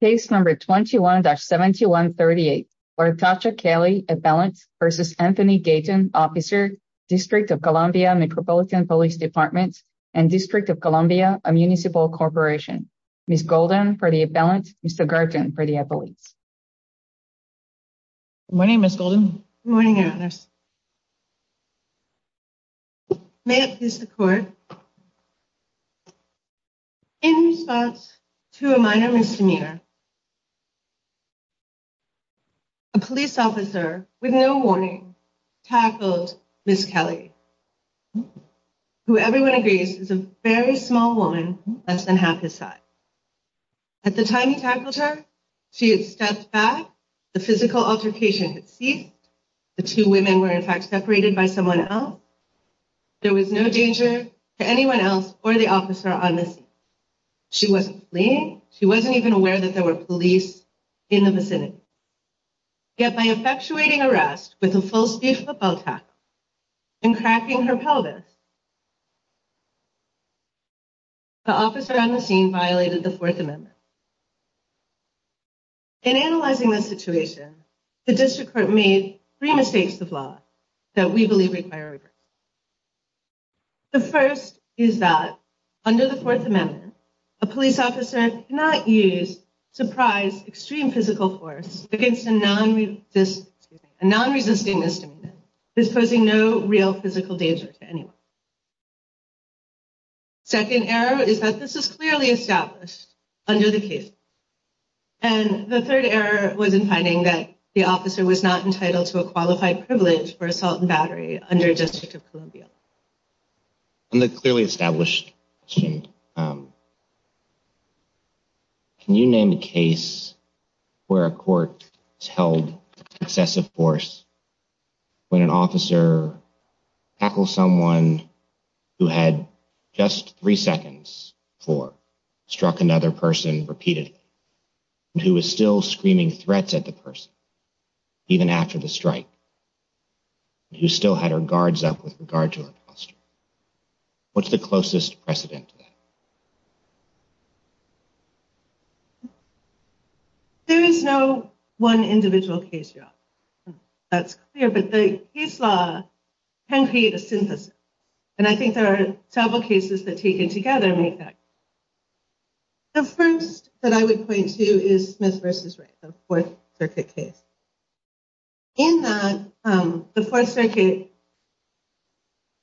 Case number 21-7138, Lartasha Kelly, appellant, v. Anthony Gaton, officer, District of Columbia Metropolitan Police Department and District of Columbia Municipal Corporation. Ms. Golden for the appellant, Mr. Garten for the appellate. Good morning, Ms. Golden. Good morning, Annalise. May it please the court. In response to a minor misdemeanor, a police officer with no warning tackled Ms. Kelly, who everyone agrees is a very small woman, less than half his size. At the time he tackled her, she had stepped back, the physical altercation had ceased, the two women were in fact separated by someone else. There was no danger to anyone else or the officer on the scene. She wasn't fleeing, she wasn't even aware that there were police in the vicinity. Yet by effectuating arrest with a full speed football tackle and cracking her pelvis, the officer on the scene violated the Fourth Amendment. In analyzing this situation, the district court made three mistakes of law that we believe require regrets. The first is that under the Fourth Amendment, a police officer cannot use, surprise, extreme physical force against a non-resisting misdemeanor. This poses no real physical danger to anyone. Second error is that this is clearly established under the case law. And the third error was in finding that the officer was not entitled to a qualified privilege for assault and battery under District of Columbia. On the clearly established question, can you name a case where a court has held excessive force when an officer tackled someone who had just three seconds for, struck another person repeatedly, and who was still screaming threats at the person, even after the strike, and who still had her guards up with regard to her posture? What's the closest precedent to that? There is no one individual case yet. That's clear, but the case law can create a synthesis. And I think there are several cases that taken together make that. The first that I would point to is Smith v. Wright, the Fourth Circuit case. In that, the Fourth Circuit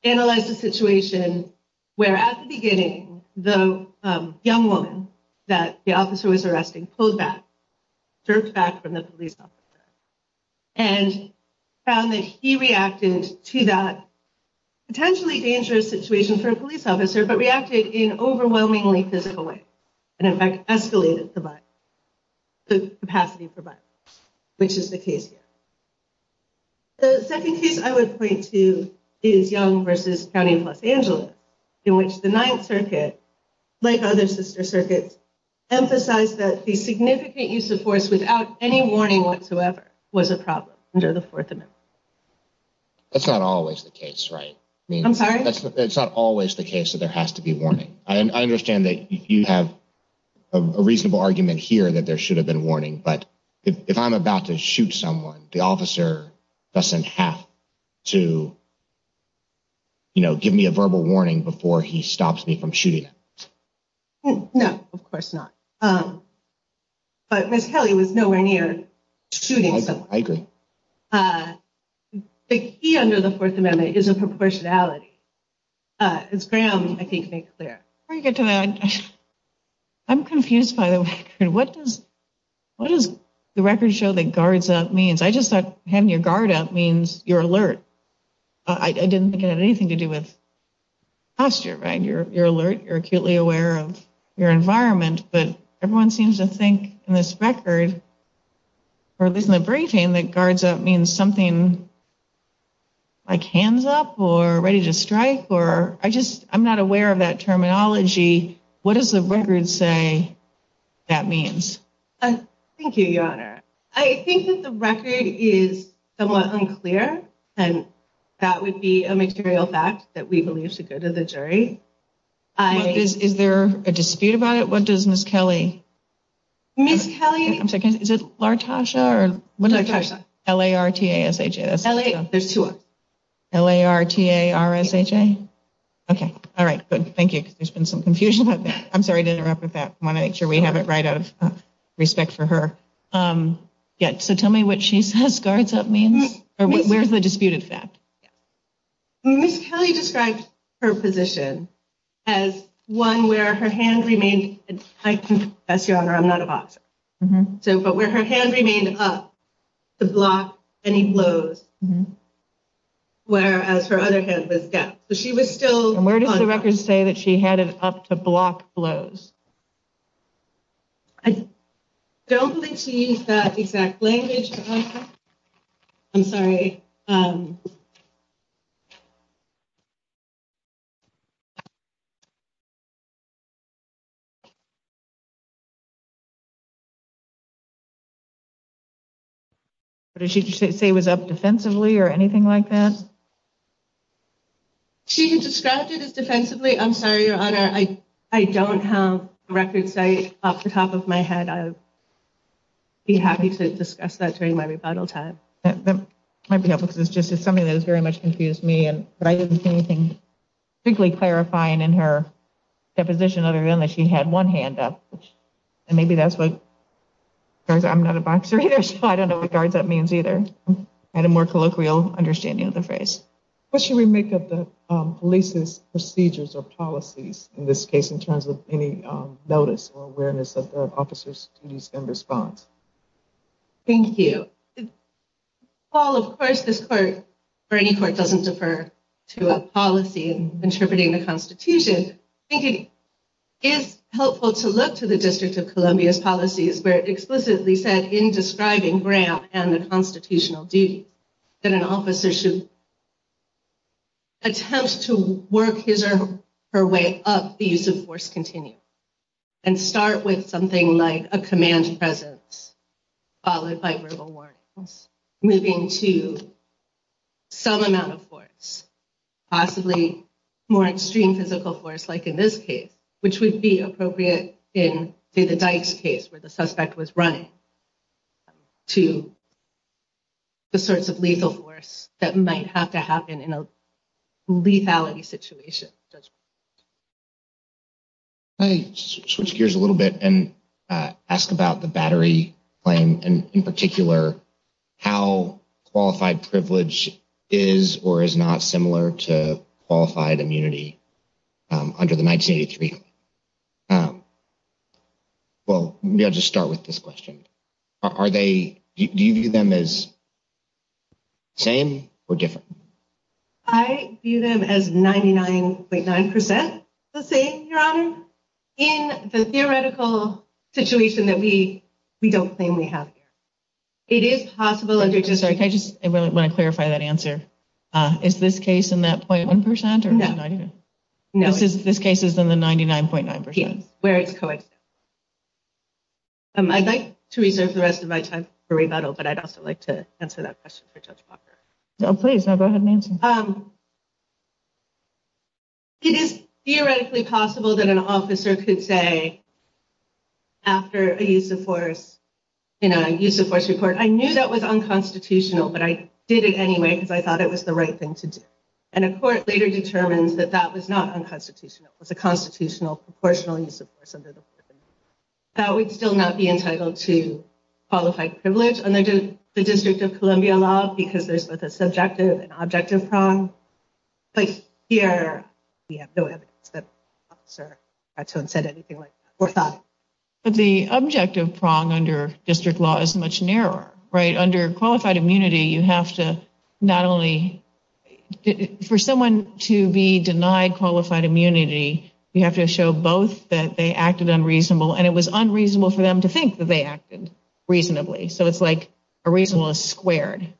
analyzed the situation where at the beginning, the young woman that the officer was arresting pulled back, jerked back from the police officer, and found that he reacted to that potentially dangerous situation for a police officer, but reacted in overwhelmingly physical way. And in fact, escalated the capacity for violence, which is the case here. The second case I would point to is Young v. County of Los Angeles, in which the Ninth Circuit, like other sister circuits, emphasized that the significant use of force without any warning whatsoever was a problem under the Fourth Amendment. That's not always the case, right? I'm sorry? It's not always the case that there has to be warning. I understand that you have a reasonable argument here that there should have been warning. But if I'm about to shoot someone, the officer doesn't have to, you know, give me a verbal warning before he stops me from shooting. No, of course not. But Miss Kelly was nowhere near shooting someone. I agree. The key under the Fourth Amendment is a proportionality, as Graham, I think, made clear. Before you get to that, I'm confused by the record. What does the record show that guards up means? I just thought having your guard up means you're alert. I didn't think it had anything to do with posture, right? You're alert. You're acutely aware of your environment. But everyone seems to think in this record, or at least in the briefing, that guards up means something like hands up or ready to strike. I'm not aware of that terminology. What does the record say that means? Thank you, Your Honor. I think that the record is somewhat unclear. And that would be a material fact that we believe should go to the jury. Is there a dispute about it? What does Miss Kelly... Miss Kelly... I'm sorry, is it Lartasha or... Lartasha. L-A-R-T-A-S-H-A. There's two of them. L-A-R-T-A-R-S-H-A? Okay. All right, good. Thank you, because there's been some confusion about that. I'm sorry to interrupt with that. I want to make sure we have it right out of respect for her. Yeah, so tell me what she says guards up means, or where's the disputed fact? Miss Kelly described her position as one where her hand remained... I confess, Your Honor, I'm not a boxer. But where her hand remained up to block any blows, whereas her other hand was down. So she was still... And where does the record say that she had it up to block blows? I don't think she used that exact language. I'm sorry. Did she say it was up defensively or anything like that? She described it as defensively. I'm sorry, Your Honor. I don't have a record say it off the top of my head. I'd be happy to discuss that during my rebuttal time. That might be helpful, because it's just something that has very much confused me. But I didn't see anything particularly clarifying in her deposition other than that she had one hand up. And maybe that's what guards up... I'm not a boxer either, so I don't know what guards up means either. I had a more colloquial understanding of the phrase. What should we make of the police's procedures or policies in this case, in terms of any notice or awareness of the officer's duties in response? Thank you. While, of course, this court, or any court, doesn't defer to a policy in interpreting the Constitution, I think it is helpful to look to the District of Columbia's policies, where it explicitly said in describing Graham and the constitutional duties that an officer should attempt to work his or her way up the use of force continuum, and start with something like a command presence, followed by verbal warnings, moving to some amount of force, possibly more extreme physical force, like in this case, which would be appropriate in, say, the Dykes case, where the suspect was running, to the sorts of lethal force that might have to happen in a lethality situation. Can I switch gears a little bit and ask about the Battery claim, and in particular, how qualified privilege is or is not similar to qualified immunity under the 1983? Well, maybe I'll just start with this question. Do you view them as same or different? I view them as 99.9 percent the same, Your Honor, in the theoretical situation that we don't claim we have here. It is possible under District... Sorry, I just want to clarify that answer. Is this case in that 0.1 percent? No. No, I didn't know. No. This case is in the 99.9 percent. Yes, where it's coexistent. I'd like to reserve the rest of my time for rebuttal, but I'd also like to answer that question for Judge Walker. Please, go ahead and answer. It is theoretically possible that an officer could say, after a use of force, in a use of force report, I knew that was unconstitutional, but I did it anyway because I thought it was the right thing to do. And a court later determined that that was not unconstitutional. It was a constitutional, proportional use of force under the Fourth Amendment. That would still not be entitled to qualified privilege under the District of Columbia law because there's both a subjective and objective prong. But here, we have no evidence that the officer had said anything like that or thought. But the objective prong under District law is much narrower, right? For someone to be denied qualified immunity, you have to show both that they acted unreasonable, and it was unreasonable for them to think that they acted reasonably. So it's like a reasonableness squared.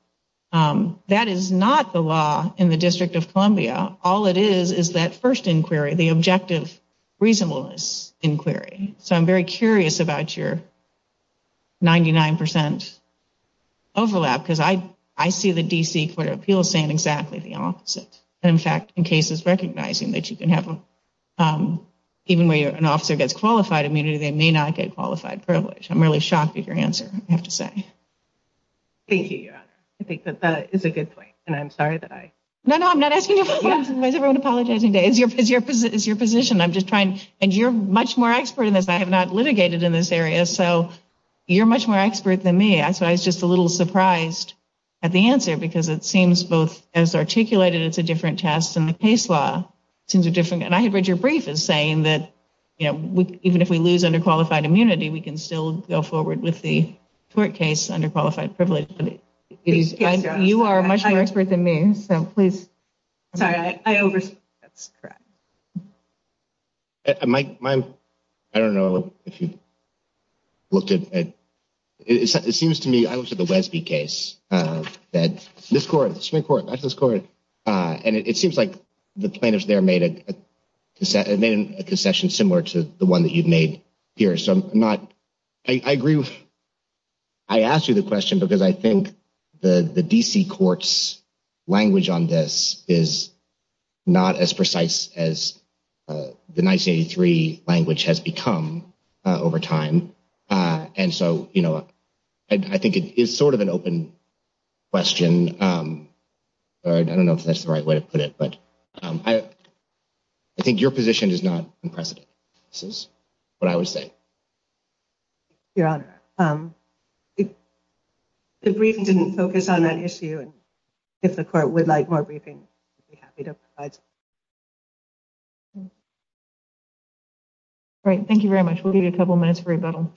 That is not the law in the District of Columbia. All it is is that first inquiry, the objective reasonableness inquiry. So I'm very curious about your 99% overlap because I see the D.C. Court of Appeals saying exactly the opposite. And, in fact, in cases recognizing that you can have even where an officer gets qualified immunity, they may not get qualified privilege. I'm really shocked at your answer, I have to say. Thank you, Your Honor. I think that that is a good point, and I'm sorry that I— No, no, I'm not asking you to apologize. Why is everyone apologizing today? It's your position. I'm just trying—and you're much more expert in this. I have not litigated in this area, so you're much more expert than me. So I was just a little surprised at the answer because it seems both as articulated, it's a different test, and the case law seems a different—and I had read your brief as saying that, you know, even if we lose underqualified immunity, we can still go forward with the tort case under qualified privilege. You are much more expert than me, so please— I don't know if you looked at—it seems to me, I looked at the Wesby case that— This court, Supreme Court, that's this court. And it seems like the plaintiffs there made a concession similar to the one that you've made here. I agree with—I asked you the question because I think the D.C. court's language on this is not as precise as the 1983 language has become over time. And so, you know, I think it is sort of an open question. I don't know if that's the right way to put it, but I think your position is not unprecedented. This is what I would say. Your Honor, the briefing didn't focus on that issue, and if the court would like more briefing, I'd be happy to provide some. All right, thank you very much. We'll give you a couple minutes for rebuttal.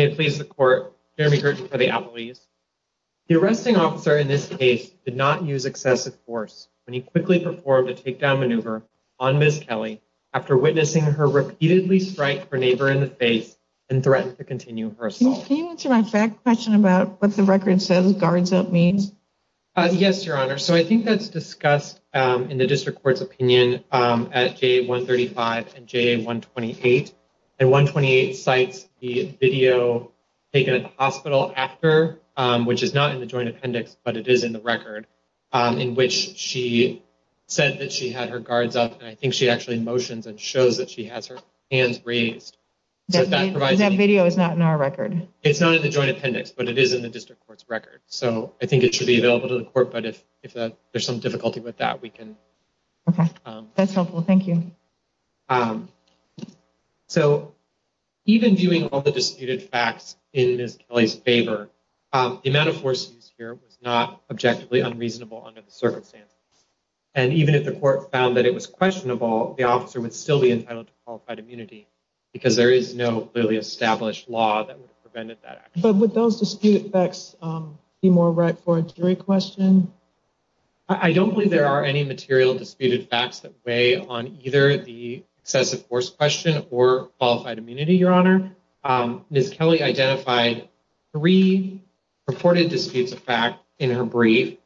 Okay, please, the court. Jeremy Gerten for the appellees. The arresting officer in this case did not use excessive force when he quickly performed a takedown maneuver on Ms. Kelly after witnessing her repeatedly strike her neighbor in the face and threaten to continue her assault. Can you answer my question about what the record says guards up means? Yes, Your Honor. So I think that's discussed at the court. In the district court's opinion at J135 and J128. And 128 cites the video taken at the hospital after, which is not in the joint appendix, but it is in the record in which she said that she had her guards up. And I think she actually motions and shows that she has her hands raised. That video is not in our record. It's not in the joint appendix, but it is in the district court's record. So I think it should be available to the court. But if if there's some difficulty with that, we can. Okay, that's helpful. Thank you. So even viewing all the disputed facts in Ms. Kelly's favor, the amount of force here was not objectively unreasonable under the circumstances. And even if the court found that it was questionable, the officer would still be entitled to qualified immunity because there is no clearly established law that would have prevented that. But would those dispute facts be more right for a jury question? I don't believe there are any material disputed facts that weigh on either the excessive force question or qualified immunity, Your Honor. Ms. Kelly identified three purported disputes of fact in her brief.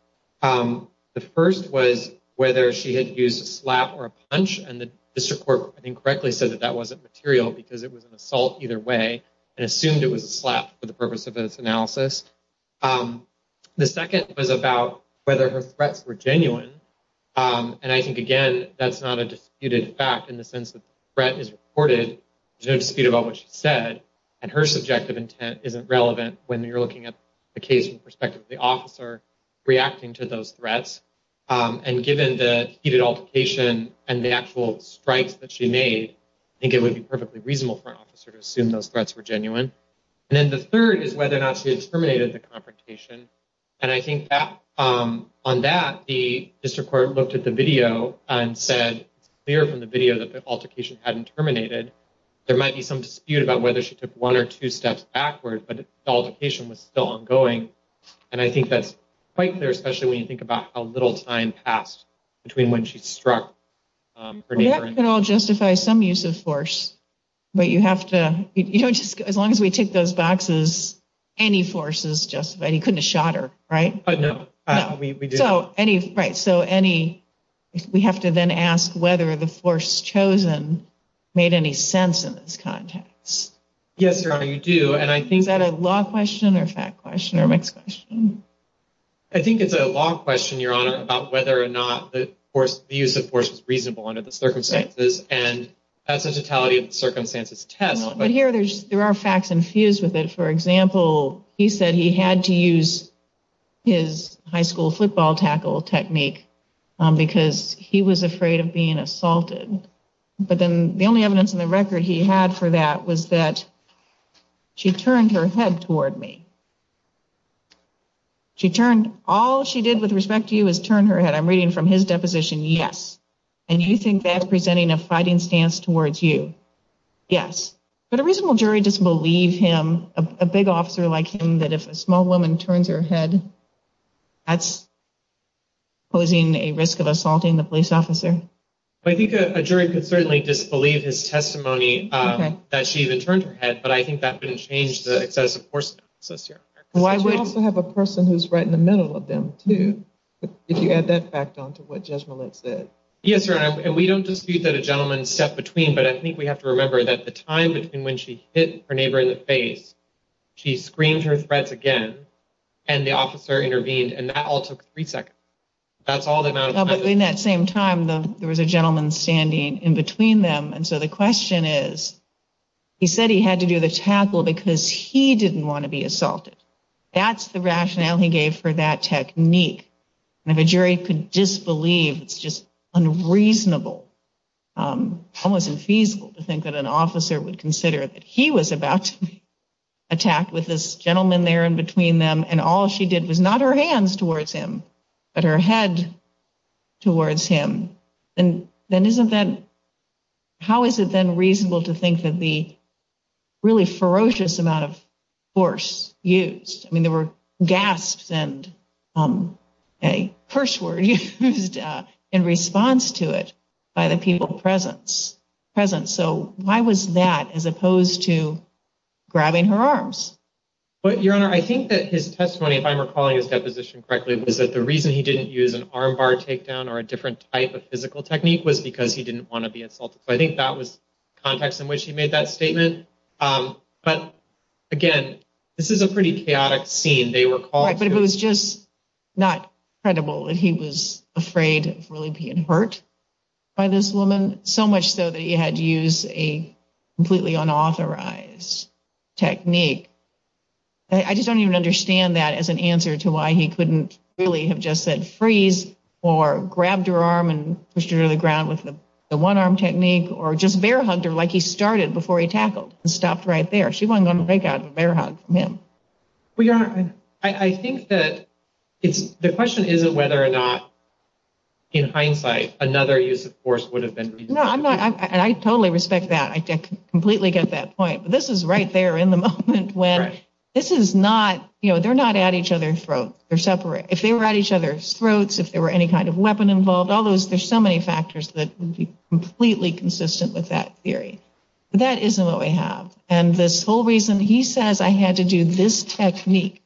The first was whether she had used a slap or a punch. And the district court, I think, correctly said that that wasn't material because it was an assault either way and assumed it was a slap for the purpose of this analysis. The second was about whether her threats were genuine. And I think, again, that's not a disputed fact in the sense that the threat is reported. There's no dispute about what she said. And her subjective intent isn't relevant when you're looking at the case from the perspective of the officer reacting to those threats. And given the heated altercation and the actual strikes that she made, I think it would be perfectly reasonable for an officer to assume those threats were genuine. And then the third is whether or not she had terminated the confrontation. And I think on that, the district court looked at the video and said, it's clear from the video that the altercation hadn't terminated. There might be some dispute about whether she took one or two steps backward, but the altercation was still ongoing. And I think that's quite clear, especially when you think about how little time passed between when she struck her neighbor. That could all justify some use of force. But you have to, you know, as long as we tick those boxes, any force is justified. You couldn't have shot her, right? No, we do. Right, so we have to then ask whether the force chosen made any sense in this context. Yes, Your Honor, you do. Is that a law question or a fact question or a mixed question? I think it's a law question, Your Honor, about whether or not the use of force was reasonable under the circumstances. And that's the totality of the circumstances test. But here there are facts infused with it. For example, he said he had to use his high school football tackle technique because he was afraid of being assaulted. But then the only evidence in the record he had for that was that she turned her head toward me. She turned, all she did with respect to you is turn her head. I'm reading from his deposition, yes. And you think that's presenting a fighting stance towards you? Yes. But a reasonable jury doesn't believe him, a big officer like him, that if a small woman turns her head, that's posing a risk of assaulting the police officer. I think a jury could certainly disbelieve his testimony that she even turned her head, but I think that wouldn't change the excessive force. Why do we also have a person who's right in the middle of them, too? If you add that fact on to what Judge Millett said. Yes, Your Honor, and we don't dispute that a gentleman stepped between, but I think we have to remember that the time between when she hit her neighbor in the face, she screamed her threats again and the officer intervened. And that all took three seconds. But in that same time, there was a gentleman standing in between them. And so the question is, he said he had to do the tackle because he didn't want to be assaulted. That's the rationale he gave for that technique. And if a jury could disbelieve, it's just unreasonable, almost unfeasible to think that an officer would consider that he was about to be attacked with this gentleman there in between them. And all she did was not her hands towards him, but her head towards him. And then isn't that how is it then reasonable to think that the really ferocious amount of force used? I mean, there were gasps and a curse word used in response to it by the people present. So why was that as opposed to grabbing her arms? But your honor, I think that his testimony, if I'm recalling his deposition correctly, was that the reason he didn't use an arm bar takedown or a different type of physical technique was because he didn't want to be assaulted. So I think that was context in which he made that statement. But again, this is a pretty chaotic scene. But it was just not credible that he was afraid of really being hurt by this woman so much so that he had to use a completely unauthorized technique. I just don't even understand that as an answer to why he couldn't really have just said freeze or grabbed her arm and pushed her to the ground with the one arm technique or just bear hugged her like he started before he tackled and stopped right there. She wasn't going to break out of a bear hug from him. Well, your honor, I think that it's the question isn't whether or not. In hindsight, another use of force would have been. No, I'm not. And I totally respect that. I completely get that point. But this is right there in the moment when this is not you know, they're not at each other's throat. They're separate. If they were at each other's throats, if there were any kind of weapon involved, all those there's so many factors that would be completely consistent with that theory. That isn't what we have. And this whole reason he says, I had to do this technique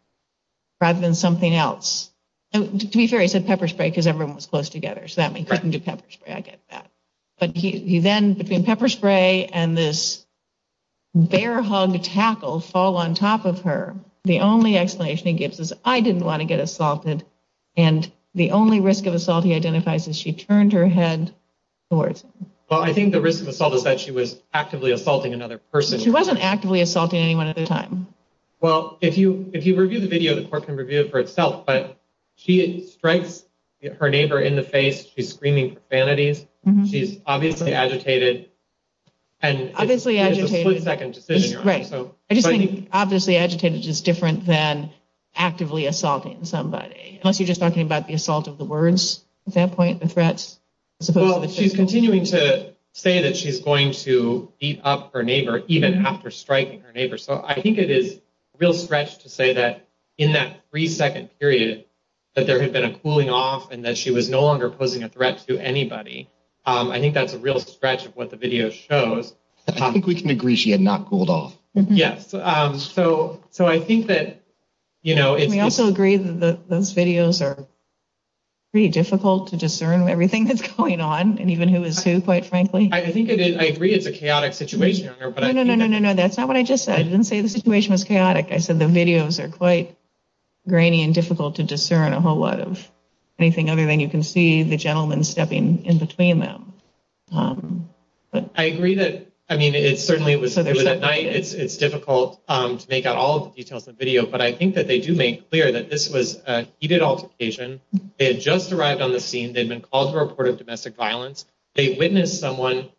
rather than something else. To be fair, he said pepper spray because everyone was close together so that we couldn't do pepper spray. I get that. But he then between pepper spray and this bear hug tackle fall on top of her. The only explanation he gives is I didn't want to get assaulted. And the only risk of assault he identifies is she turned her head towards. Well, I think the risk of assault is that she was actively assaulting another person. She wasn't actively assaulting anyone at the time. Well, if you if you review the video, the court can review it for itself. But she strikes her neighbor in the face. She's screaming vanities. She's obviously agitated and obviously agitated. Second decision. Right. I just think obviously agitated is different than actively assaulting somebody. Unless you're just talking about the assault of the words at that point, the threats. Well, she's continuing to say that she's going to beat up her neighbor even after striking her neighbor. So I think it is a real stretch to say that in that three second period that there had been a cooling off and that she was no longer posing a threat to anybody. I think that's a real stretch of what the video shows. I think we can agree she had not cooled off. Yes. So so I think that, you know. We also agree that those videos are pretty difficult to discern everything that's going on and even who is who, quite frankly. I think I agree it's a chaotic situation. No, no, no, no, no, no. That's not what I just said. I didn't say the situation was chaotic. I said the videos are quite grainy and difficult to discern a whole lot of anything other than you can see the gentleman stepping in between them. I agree that. I mean, it certainly was at night. It's difficult to make out all the details of the video. But I think that they do make clear that this was a heated altercation. They had just arrived on the scene. They'd been called to report of domestic violence. They witnessed someone,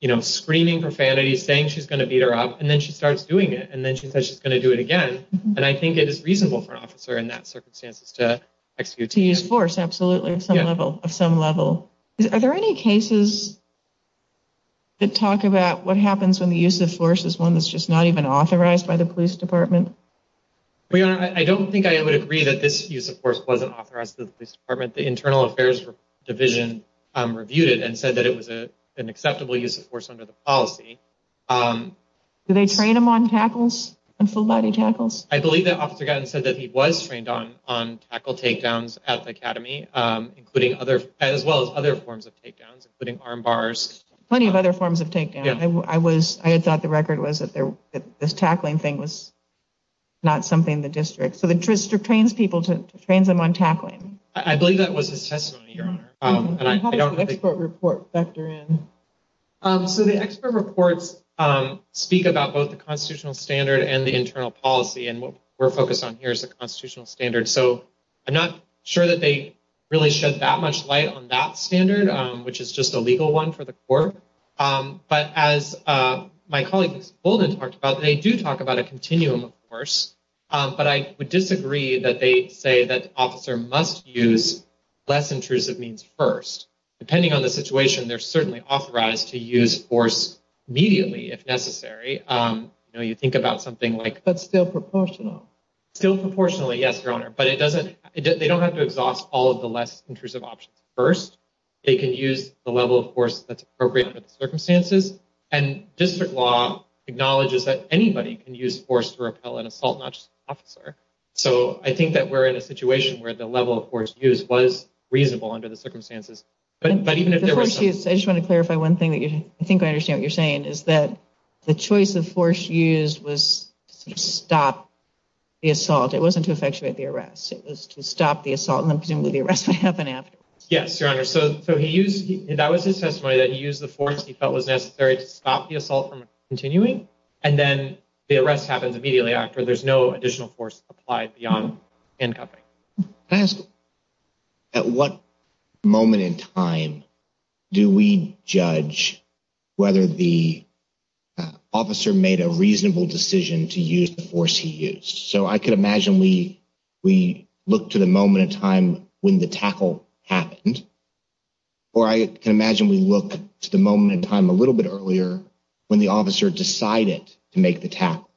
you know, screaming profanity, saying she's going to beat her up. And then she starts doing it. And then she says she's going to do it again. And I think it is reasonable for an officer in that circumstances to execute. To use force. Absolutely. Some level of some level. Are there any cases that talk about what happens when the use of force is one that's just not even authorized by the police department? I don't think I would agree that this use of force wasn't authorized to the police department. The Internal Affairs Division reviewed it and said that it was an acceptable use of force under the policy. Do they train them on tackles and full body tackles? I believe that Officer Gatton said that he was trained on tackle takedowns at the academy, as well as other forms of takedowns, including arm bars. Plenty of other forms of takedowns. I had thought the record was that this tackling thing was not something in the district. So the district trains people to train them on tackling. I believe that was his testimony, Your Honor. How does the expert report factor in? So the expert reports speak about both the constitutional standard and the internal policy. And what we're focused on here is the constitutional standard. So I'm not sure that they really shed that much light on that standard, which is just a legal one for the court. But as my colleague Golden talked about, they do talk about a continuum of force. But I would disagree that they say that officer must use less intrusive means first. Depending on the situation, they're certainly authorized to use force immediately if necessary. You know, you think about something like... But still proportional. Still proportionally, yes, Your Honor. But they don't have to exhaust all of the less intrusive options first. They can use the level of force that's appropriate under the circumstances. And district law acknowledges that anybody can use force to repel an assault, not just an officer. So I think that we're in a situation where the level of force used was reasonable under the circumstances. But even if there was... I just want to clarify one thing that I think I understand what you're saying is that the choice of force used was to stop the assault. It wasn't to effectuate the arrest. It was to stop the assault and then presumably the arrest would happen afterwards. Yes, Your Honor. So that was his testimony that he used the force he felt was necessary to stop the assault from continuing. And then the arrest happens immediately after. There's no additional force applied beyond handcuffing. Can I ask at what moment in time do we judge whether the officer made a reasonable decision to use the force he used? So I could imagine we look to the moment in time when the tackle happened. Or I can imagine we look to the moment in time a little bit earlier when the officer decided to make the tackle.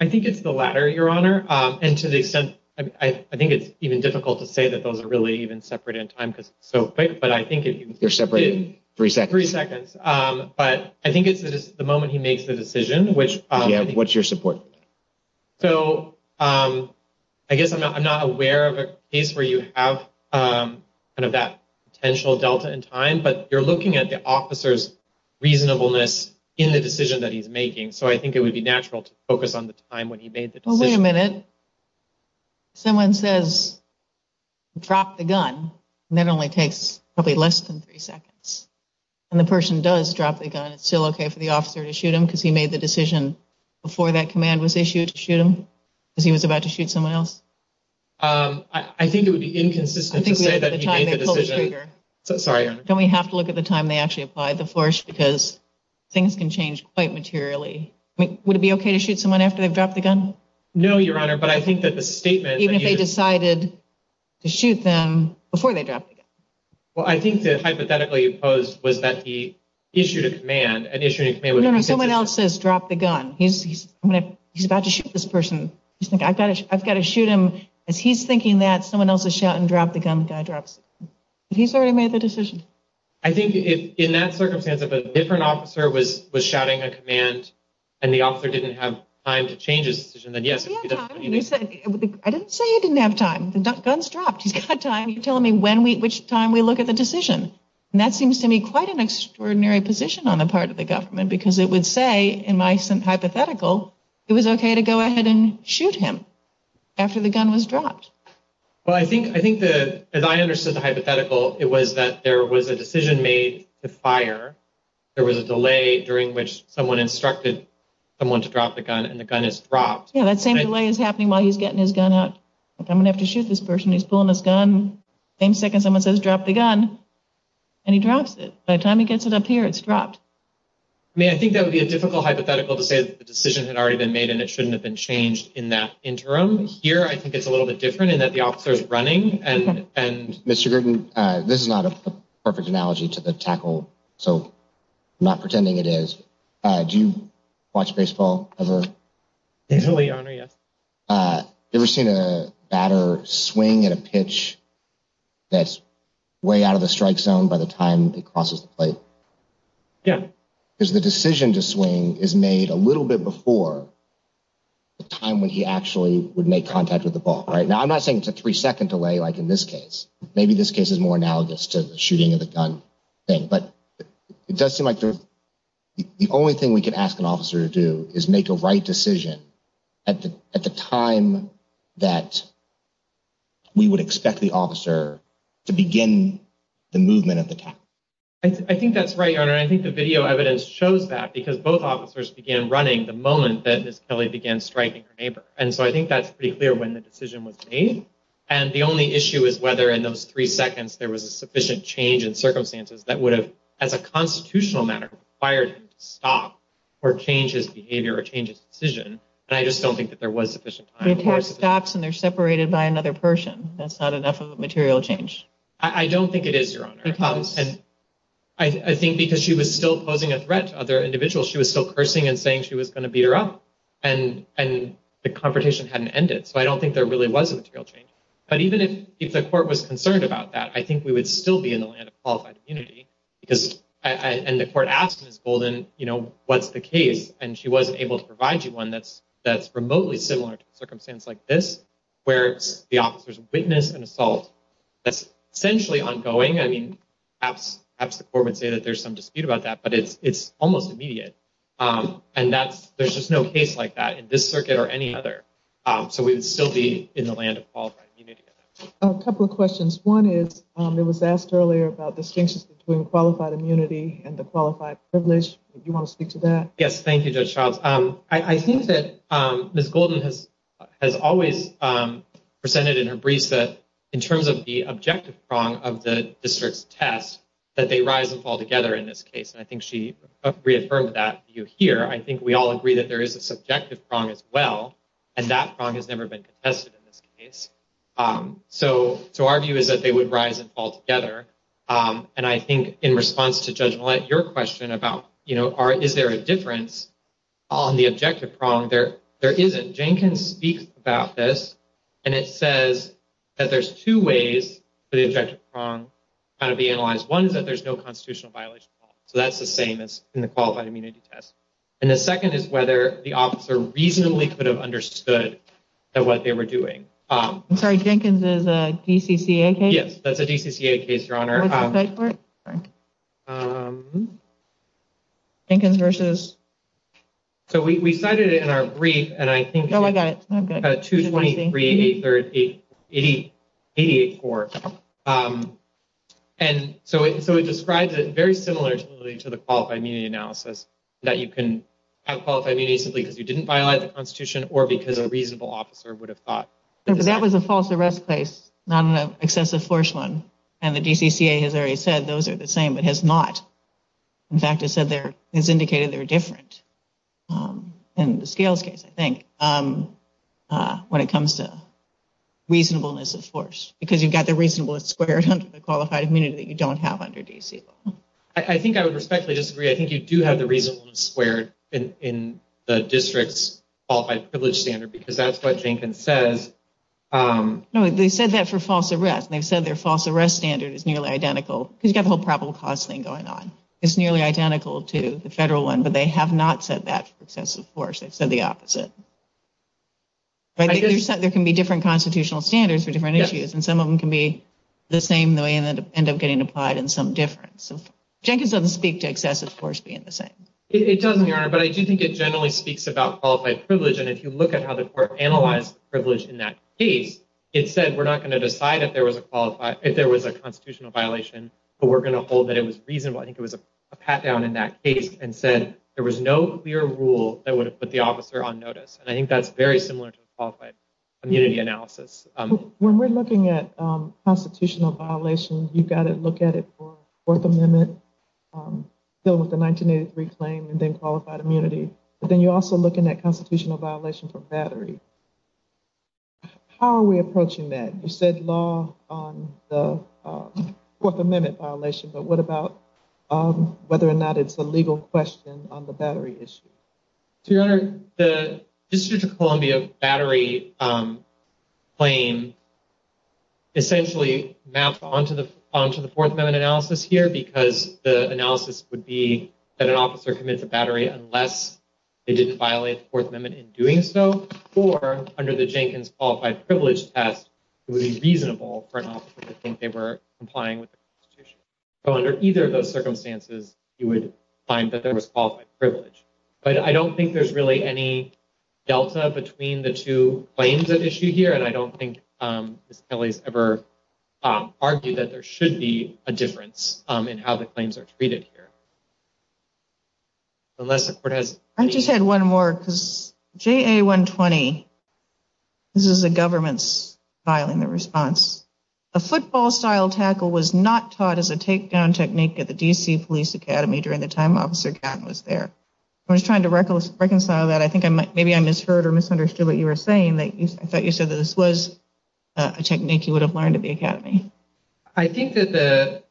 I think it's the latter, Your Honor. And to the extent I think it's even difficult to say that those are really even separate in time because it's so quick. They're separated in three seconds. Three seconds. But I think it's the moment he makes the decision. What's your support? So I guess I'm not aware of a case where you have kind of that potential delta in time. But you're looking at the officer's reasonableness in the decision that he's making. So I think it would be natural to focus on the time when he made the decision. Well, wait a minute. Someone says drop the gun. And that only takes probably less than three seconds. And the person does drop the gun. And it's still OK for the officer to shoot him because he made the decision before that command was issued to shoot him? Because he was about to shoot someone else? I think it would be inconsistent to say that he made the decision. Sorry, Your Honor. Don't we have to look at the time they actually applied the force? Because things can change quite materially. Would it be OK to shoot someone after they've dropped the gun? No, Your Honor. But I think that the statement... Even if they decided to shoot them before they dropped the gun. Well, I think that hypothetically opposed was that he issued a command. No, no. Someone else says drop the gun. He's about to shoot this person. He's like, I've got to shoot him. As he's thinking that, someone else is shouting drop the gun. The guy drops the gun. He's already made the decision. I think in that circumstance, if a different officer was shouting a command and the officer didn't have time to change his decision, then yes. I didn't say he didn't have time. The gun's dropped. He's got time. You're telling me which time we look at the decision. And that seems to me quite an extraordinary position on the part of the government. Because it would say, in my hypothetical, it was OK to go ahead and shoot him after the gun was dropped. Well, I think, as I understood the hypothetical, it was that there was a decision made to fire. There was a delay during which someone instructed someone to drop the gun and the gun is dropped. Yeah, that same delay is happening while he's getting his gun out. I'm going to have to shoot this person. Same second someone says drop the gun and he drops it. By the time he gets it up here, it's dropped. I mean, I think that would be a difficult hypothetical to say that the decision had already been made and it shouldn't have been changed in that interim. Here, I think it's a little bit different in that the officer is running. Mr. Gruden, this is not a perfect analogy to the tackle, so I'm not pretending it is. Do you watch baseball ever? Totally, your honor, yes. Ever seen a batter swing at a pitch that's way out of the strike zone by the time it crosses the plate? Yeah. Because the decision to swing is made a little bit before the time when he actually would make contact with the ball. Now, I'm not saying it's a three second delay like in this case. Maybe this case is more analogous to the shooting of the gun thing. But it does seem like the only thing we can ask an officer to do is make a right decision at the time that we would expect the officer to begin the movement of the tackle. I think that's right, your honor. I think the video evidence shows that because both officers began running the moment that Ms. Kelly began striking her neighbor. And so I think that's pretty clear when the decision was made. And the only issue is whether in those three seconds there was a sufficient change in circumstances that would have, as a constitutional matter, required him to stop or change his behavior or change his decision. And I just don't think that there was sufficient time. The attack stops and they're separated by another person. That's not enough of a material change. I don't think it is, your honor. I think because she was still posing a threat to other individuals, she was still cursing and saying she was going to beat her up. And the confrontation hadn't ended. So I don't think there really was a material change. But even if the court was concerned about that, I think we would still be in the land of qualified immunity. And the court asked Ms. Golden, you know, what's the case? And she wasn't able to provide you one that's remotely similar to a circumstance like this, where the officers witness an assault that's essentially ongoing. I mean, perhaps the court would say that there's some dispute about that, but it's almost immediate. And there's just no case like that in this circuit or any other. So we would still be in the land of qualified immunity. A couple of questions. One is, it was asked earlier about distinctions between qualified immunity and the qualified privilege. You want to speak to that? Yes, thank you, Judge Charles. I think that Ms. Golden has always presented in her briefs that in terms of the objective prong of the district's test, that they rise and fall together in this case. And I think she reaffirmed that view here. I think we all agree that there is a subjective prong as well. And that prong has never been contested in this case. So our view is that they would rise and fall together. And I think in response to Judge Millett, your question about, you know, is there a difference on the objective prong? There isn't. Jenkins speaks about this. And it says that there's two ways for the objective prong to be analyzed. One is that there's no constitutional violation. So that's the same as in the qualified immunity test. And the second is whether the officer reasonably could have understood what they were doing. I'm sorry, Jenkins is a DCCA case? Yes, that's a DCCA case, Your Honor. Jenkins versus? So we cited it in our brief. Oh, I got it. 223884. And so it describes it very similarly to the qualified immunity analysis. That you can have qualified immunity simply because you didn't violate the Constitution or because a reasonable officer would have thought. That was a false arrest case, not an excessive force one. And the DCCA has already said those are the same, but has not. In fact, it said there is indicated they're different. And the scales case, I think, when it comes to reasonableness of force. Because you've got the reasonableness squared under the qualified immunity that you don't have under DCCA. I think I would respectfully disagree. I think you do have the reasonableness squared in the district's qualified privilege standard. Because that's what Jenkins says. No, they said that for false arrest. And they've said their false arrest standard is nearly identical. Because you've got the whole probable cause thing going on. It's nearly identical to the federal one. But they have not said that for excessive force. They've said the opposite. There can be different constitutional standards for different issues. And some of them can be the same. They end up getting applied in some different. So Jenkins doesn't speak to excessive force being the same. It doesn't, Your Honor. But I do think it generally speaks about qualified privilege. And if you look at how the court analyzed privilege in that case. It said we're not going to decide if there was a constitutional violation. But we're going to hold that it was reasonable. I think it was a pat down in that case. And said there was no clear rule that would have put the officer on notice. And I think that's very similar to the qualified immunity analysis. When we're looking at constitutional violations. You've got to look at it for Fourth Amendment. Still with the 1983 claim. And then qualified immunity. But then you're also looking at constitutional violation for battery. How are we approaching that? You said law on the Fourth Amendment violation. But what about whether or not it's a legal question on the battery issue? Your Honor, the District of Columbia battery claim. Essentially mapped onto the Fourth Amendment analysis here. Because the analysis would be that an officer commits a battery. Unless it didn't violate the Fourth Amendment in doing so. Or under the Jenkins qualified privilege test. It would be reasonable for an officer to think they were complying with the Constitution. Under either of those circumstances. You would find that there was qualified privilege. But I don't think there's really any delta between the two claims at issue here. And I don't think Ms. Kelly's ever argued that there should be a difference. In how the claims are treated here. Unless the court has. I just had one more. Because JA 120. This is the government's filing the response. A football style tackle was not taught as a take down technique at the DC Police Academy. During the time Officer Gatton was there. I was trying to reconcile that. I think maybe I misheard or misunderstood what you were saying. I thought you said that this was a technique you would have learned at the Academy. I think that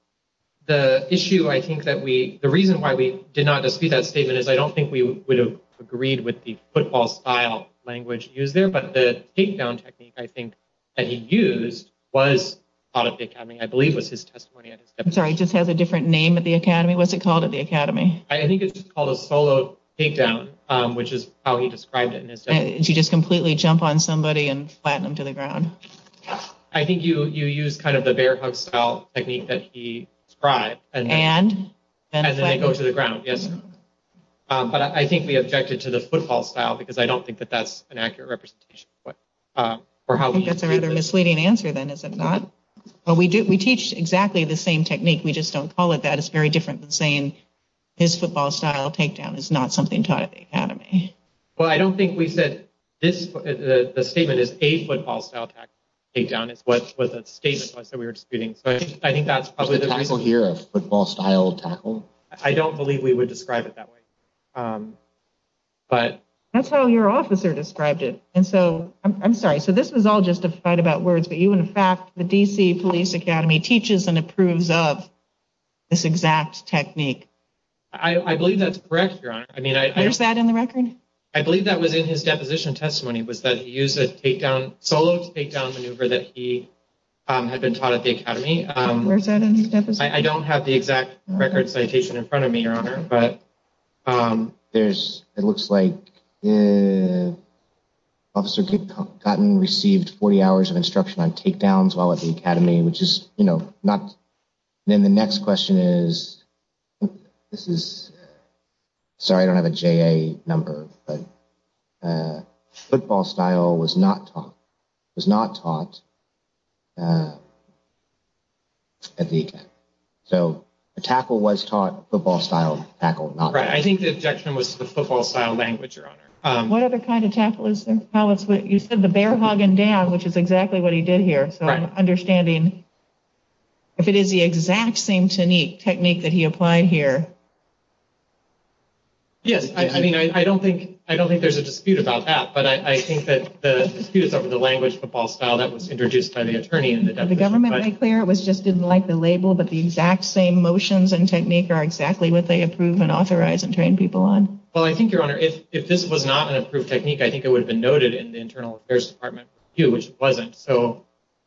the issue. I think that the reason why we did not dispute that statement. Is I don't think we would have agreed with the football style language used there. But the take down technique. I think that he used was part of the Academy. I believe it was his testimony. I'm sorry. It just has a different name at the Academy. What's it called at the Academy? Follow take down. Which is how he described it in his testimony. You just completely jump on somebody and flatten them to the ground. I think you use kind of the bear hug style technique that he described. And? And then they go to the ground. But I think we objected to the football style. Because I don't think that that's an accurate representation. I think that's a rather misleading answer then is it not? We teach exactly the same technique. We just don't call it that. I think that's very different than saying. His football style takedown is not something taught at the Academy. Well, I don't think we said this. The statement is a football style. Takedown is what was a statement. I said we were disputing. I think that's probably the reason here. Football style tackle. I don't believe we would describe it that way. But that's how your officer described it. And so I'm sorry. So this was all just a fight about words. But you in fact the DC Police Academy teaches and approves of. This exact technique. I believe that's correct, Your Honor. Where's that in the record? I believe that was in his deposition testimony. Was that he used a solo takedown maneuver that he. Had been taught at the Academy. Where's that in his deposition? I don't have the exact record citation in front of me, Your Honor. But there's. It looks like. Officer Kip Cotton received 40 hours of instruction on takedowns while at the Academy. Which is, you know, not. Then the next question is. This is. Sorry, I don't have a J.A. number. But football style was not taught. Was not taught. At the Academy. So a tackle was taught football style tackle. I think the objection was the football style language, Your Honor. What other kind of tackle is there? You said the bear hogging down, which is exactly what he did here. So I'm understanding. If it is the exact same technique technique that he applied here. Yes, I mean, I don't think I don't think there's a dispute about that, but I think that. It's over the language football style that was introduced by the attorney in the government. It was just didn't like the label, but the exact same motions and technique are exactly what they approve and authorize and train people on. Well, I think, Your Honor, if this was not an approved technique, I think it would have been noted in the internal affairs department. Which wasn't so.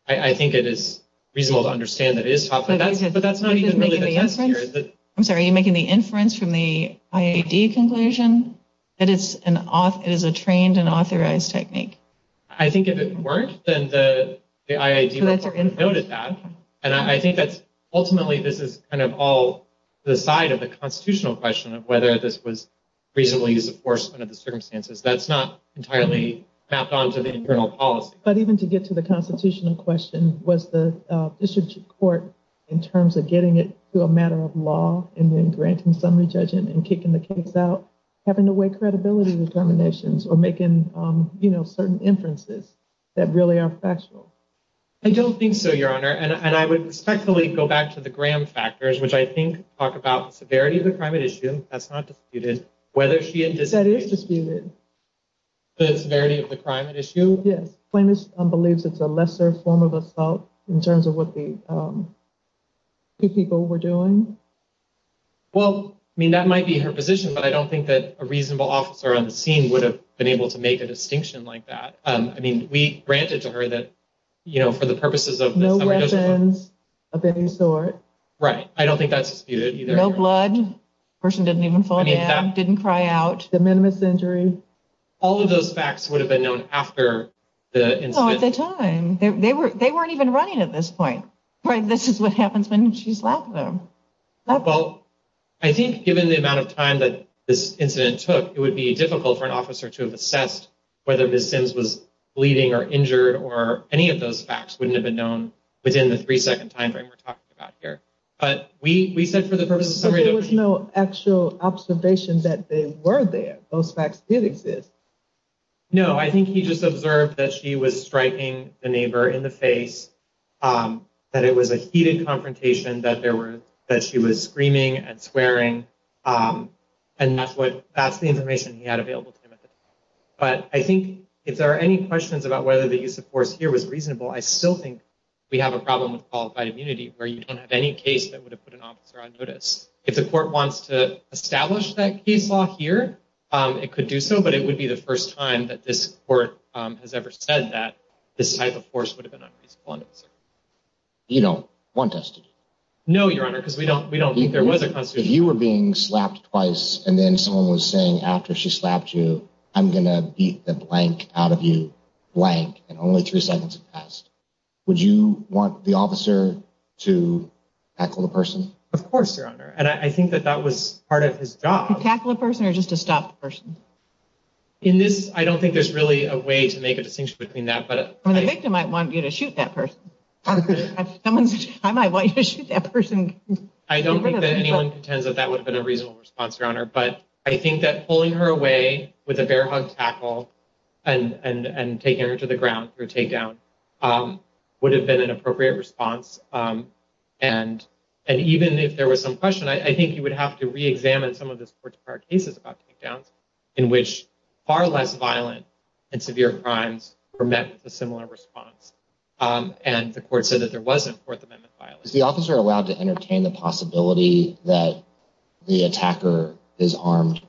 I think it is reasonable to understand that it is tough. But that's not even the answer. I'm sorry, you're making the inference from the IAD conclusion that it's an off. It is a trained and authorized technique. I think if it weren't, then the IAD would have noted that. And I think that's ultimately this is kind of all the side of the constitutional question of whether this was reasonably use of force under the circumstances. That's not entirely mapped onto the internal policy. But even to get to the constitutional question, was the district court in terms of getting it to a matter of law and then granting summary judgment and kicking the case out? Having to weigh credibility determinations or making certain inferences that really are factual? I don't think so, Your Honor. And I would respectfully go back to the Graham factors, which I think talk about the severity of the climate issue. That's not disputed. That is disputed. The severity of the climate issue? Yes. Famous believes it's a lesser form of assault in terms of what the two people were doing. Well, I mean, that might be her position, but I don't think that a reasonable officer on the scene would have been able to make a distinction like that. I mean, we granted to her that, you know, for the purposes of no weapons of any sort. Right. I don't think that's disputed. No blood. The person didn't even fall down, didn't cry out. Minimus injury. All of those facts would have been known after the incident. No, at the time. They weren't even running at this point. This is what happens when she's laughing. Well, I think given the amount of time that this incident took, it would be difficult for an officer to have assessed whether Ms. Sims was bleeding or injured or any of those facts wouldn't have been known within the three second time frame we're talking about here. But we said for the purpose of summary. There was no actual observation that they were there. Those facts did exist. No, I think he just observed that she was striking the neighbor in the face, that it was a heated confrontation, that there were that she was screaming and swearing. And that's what that's the information he had available to him at the time. But I think if there are any questions about whether the use of force here was reasonable, I still think we have a problem with qualified immunity where you don't have any case that would have put an officer on notice. If the court wants to establish that case law here, it could do so. But it would be the first time that this court has ever said that this type of force would have been unreasonable on notice. You don't want us to do that? No, Your Honor, because we don't. We don't. If you were being slapped twice and then someone was saying after she slapped you, I'm going to beat the blank out of you. Blank. And only three seconds passed. Would you want the officer to tackle the person? Of course, Your Honor. And I think that that was part of his job. To tackle a person or just to stop the person? In this, I don't think there's really a way to make a distinction between that. The victim might want you to shoot that person. I might want you to shoot that person. I don't think that anyone contends that that would have been a reasonable response, Your Honor. But I think that pulling her away with a bear hug tackle and taking her to the ground for a takedown would have been an appropriate response. And even if there was some question, I think you would have to reexamine some of this court's prior cases about takedowns in which far less violent and severe crimes were met with a similar response. And the court said that there wasn't Fourth Amendment violence. Is the officer allowed to entertain the possibility that the attacker is armed?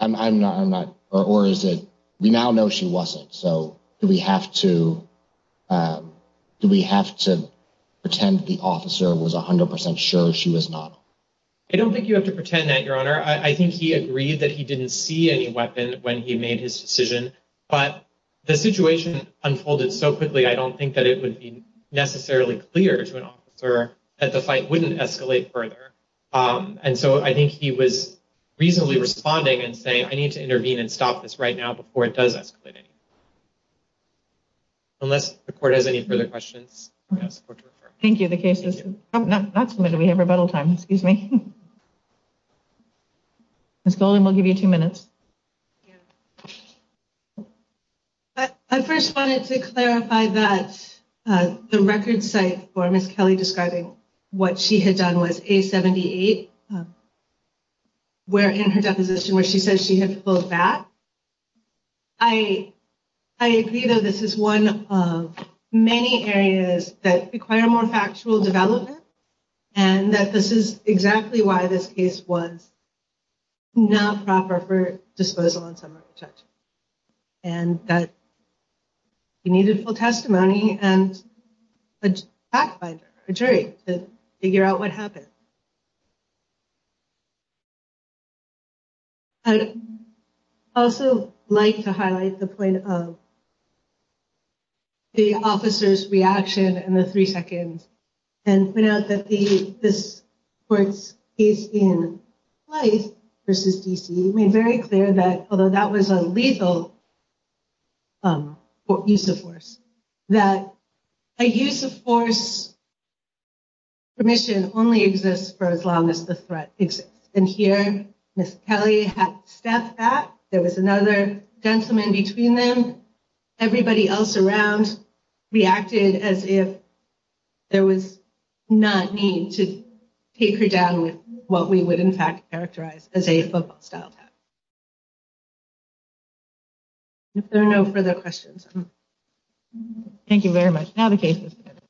I'm not. Or is it? We now know she wasn't. So do we have to do we have to pretend the officer was 100 percent sure she was not? I don't think you have to pretend that, Your Honor. I think he agreed that he didn't see any weapon when he made his decision. But the situation unfolded so quickly, I don't think that it would be necessarily clear to an officer that the fight wouldn't escalate further. And so I think he was reasonably responding and saying, I need to intervene and stop this right now before it does escalate. Unless the court has any further questions. Thank you. The case is not submitted. We have rebuttal time. Excuse me. Ms. Golden, we'll give you two minutes. I first wanted to clarify that the record site for Ms. Kelly describing what she had done was A78. Where in her deposition where she says she had pulled back. I agree, though, this is one of many areas that require more factual development. And that this is exactly why this case was not proper for disposal on summer protection. And that you needed full testimony and a fact finder, a jury, to figure out what happened. I'd also like to highlight the point of the officer's reaction in the three seconds. And point out that this court's case in life versus D.C. made very clear that, although that was a lethal use of force, that a use of force permission only exists for as long as the threat exists. And here, Ms. Kelly had stepped back. There was another gentleman between them. Everybody else around reacted as if there was not need to take her down with what we would, in fact, characterize as a football style attack. If there are no further questions. Thank you very much. Now the case is submitted.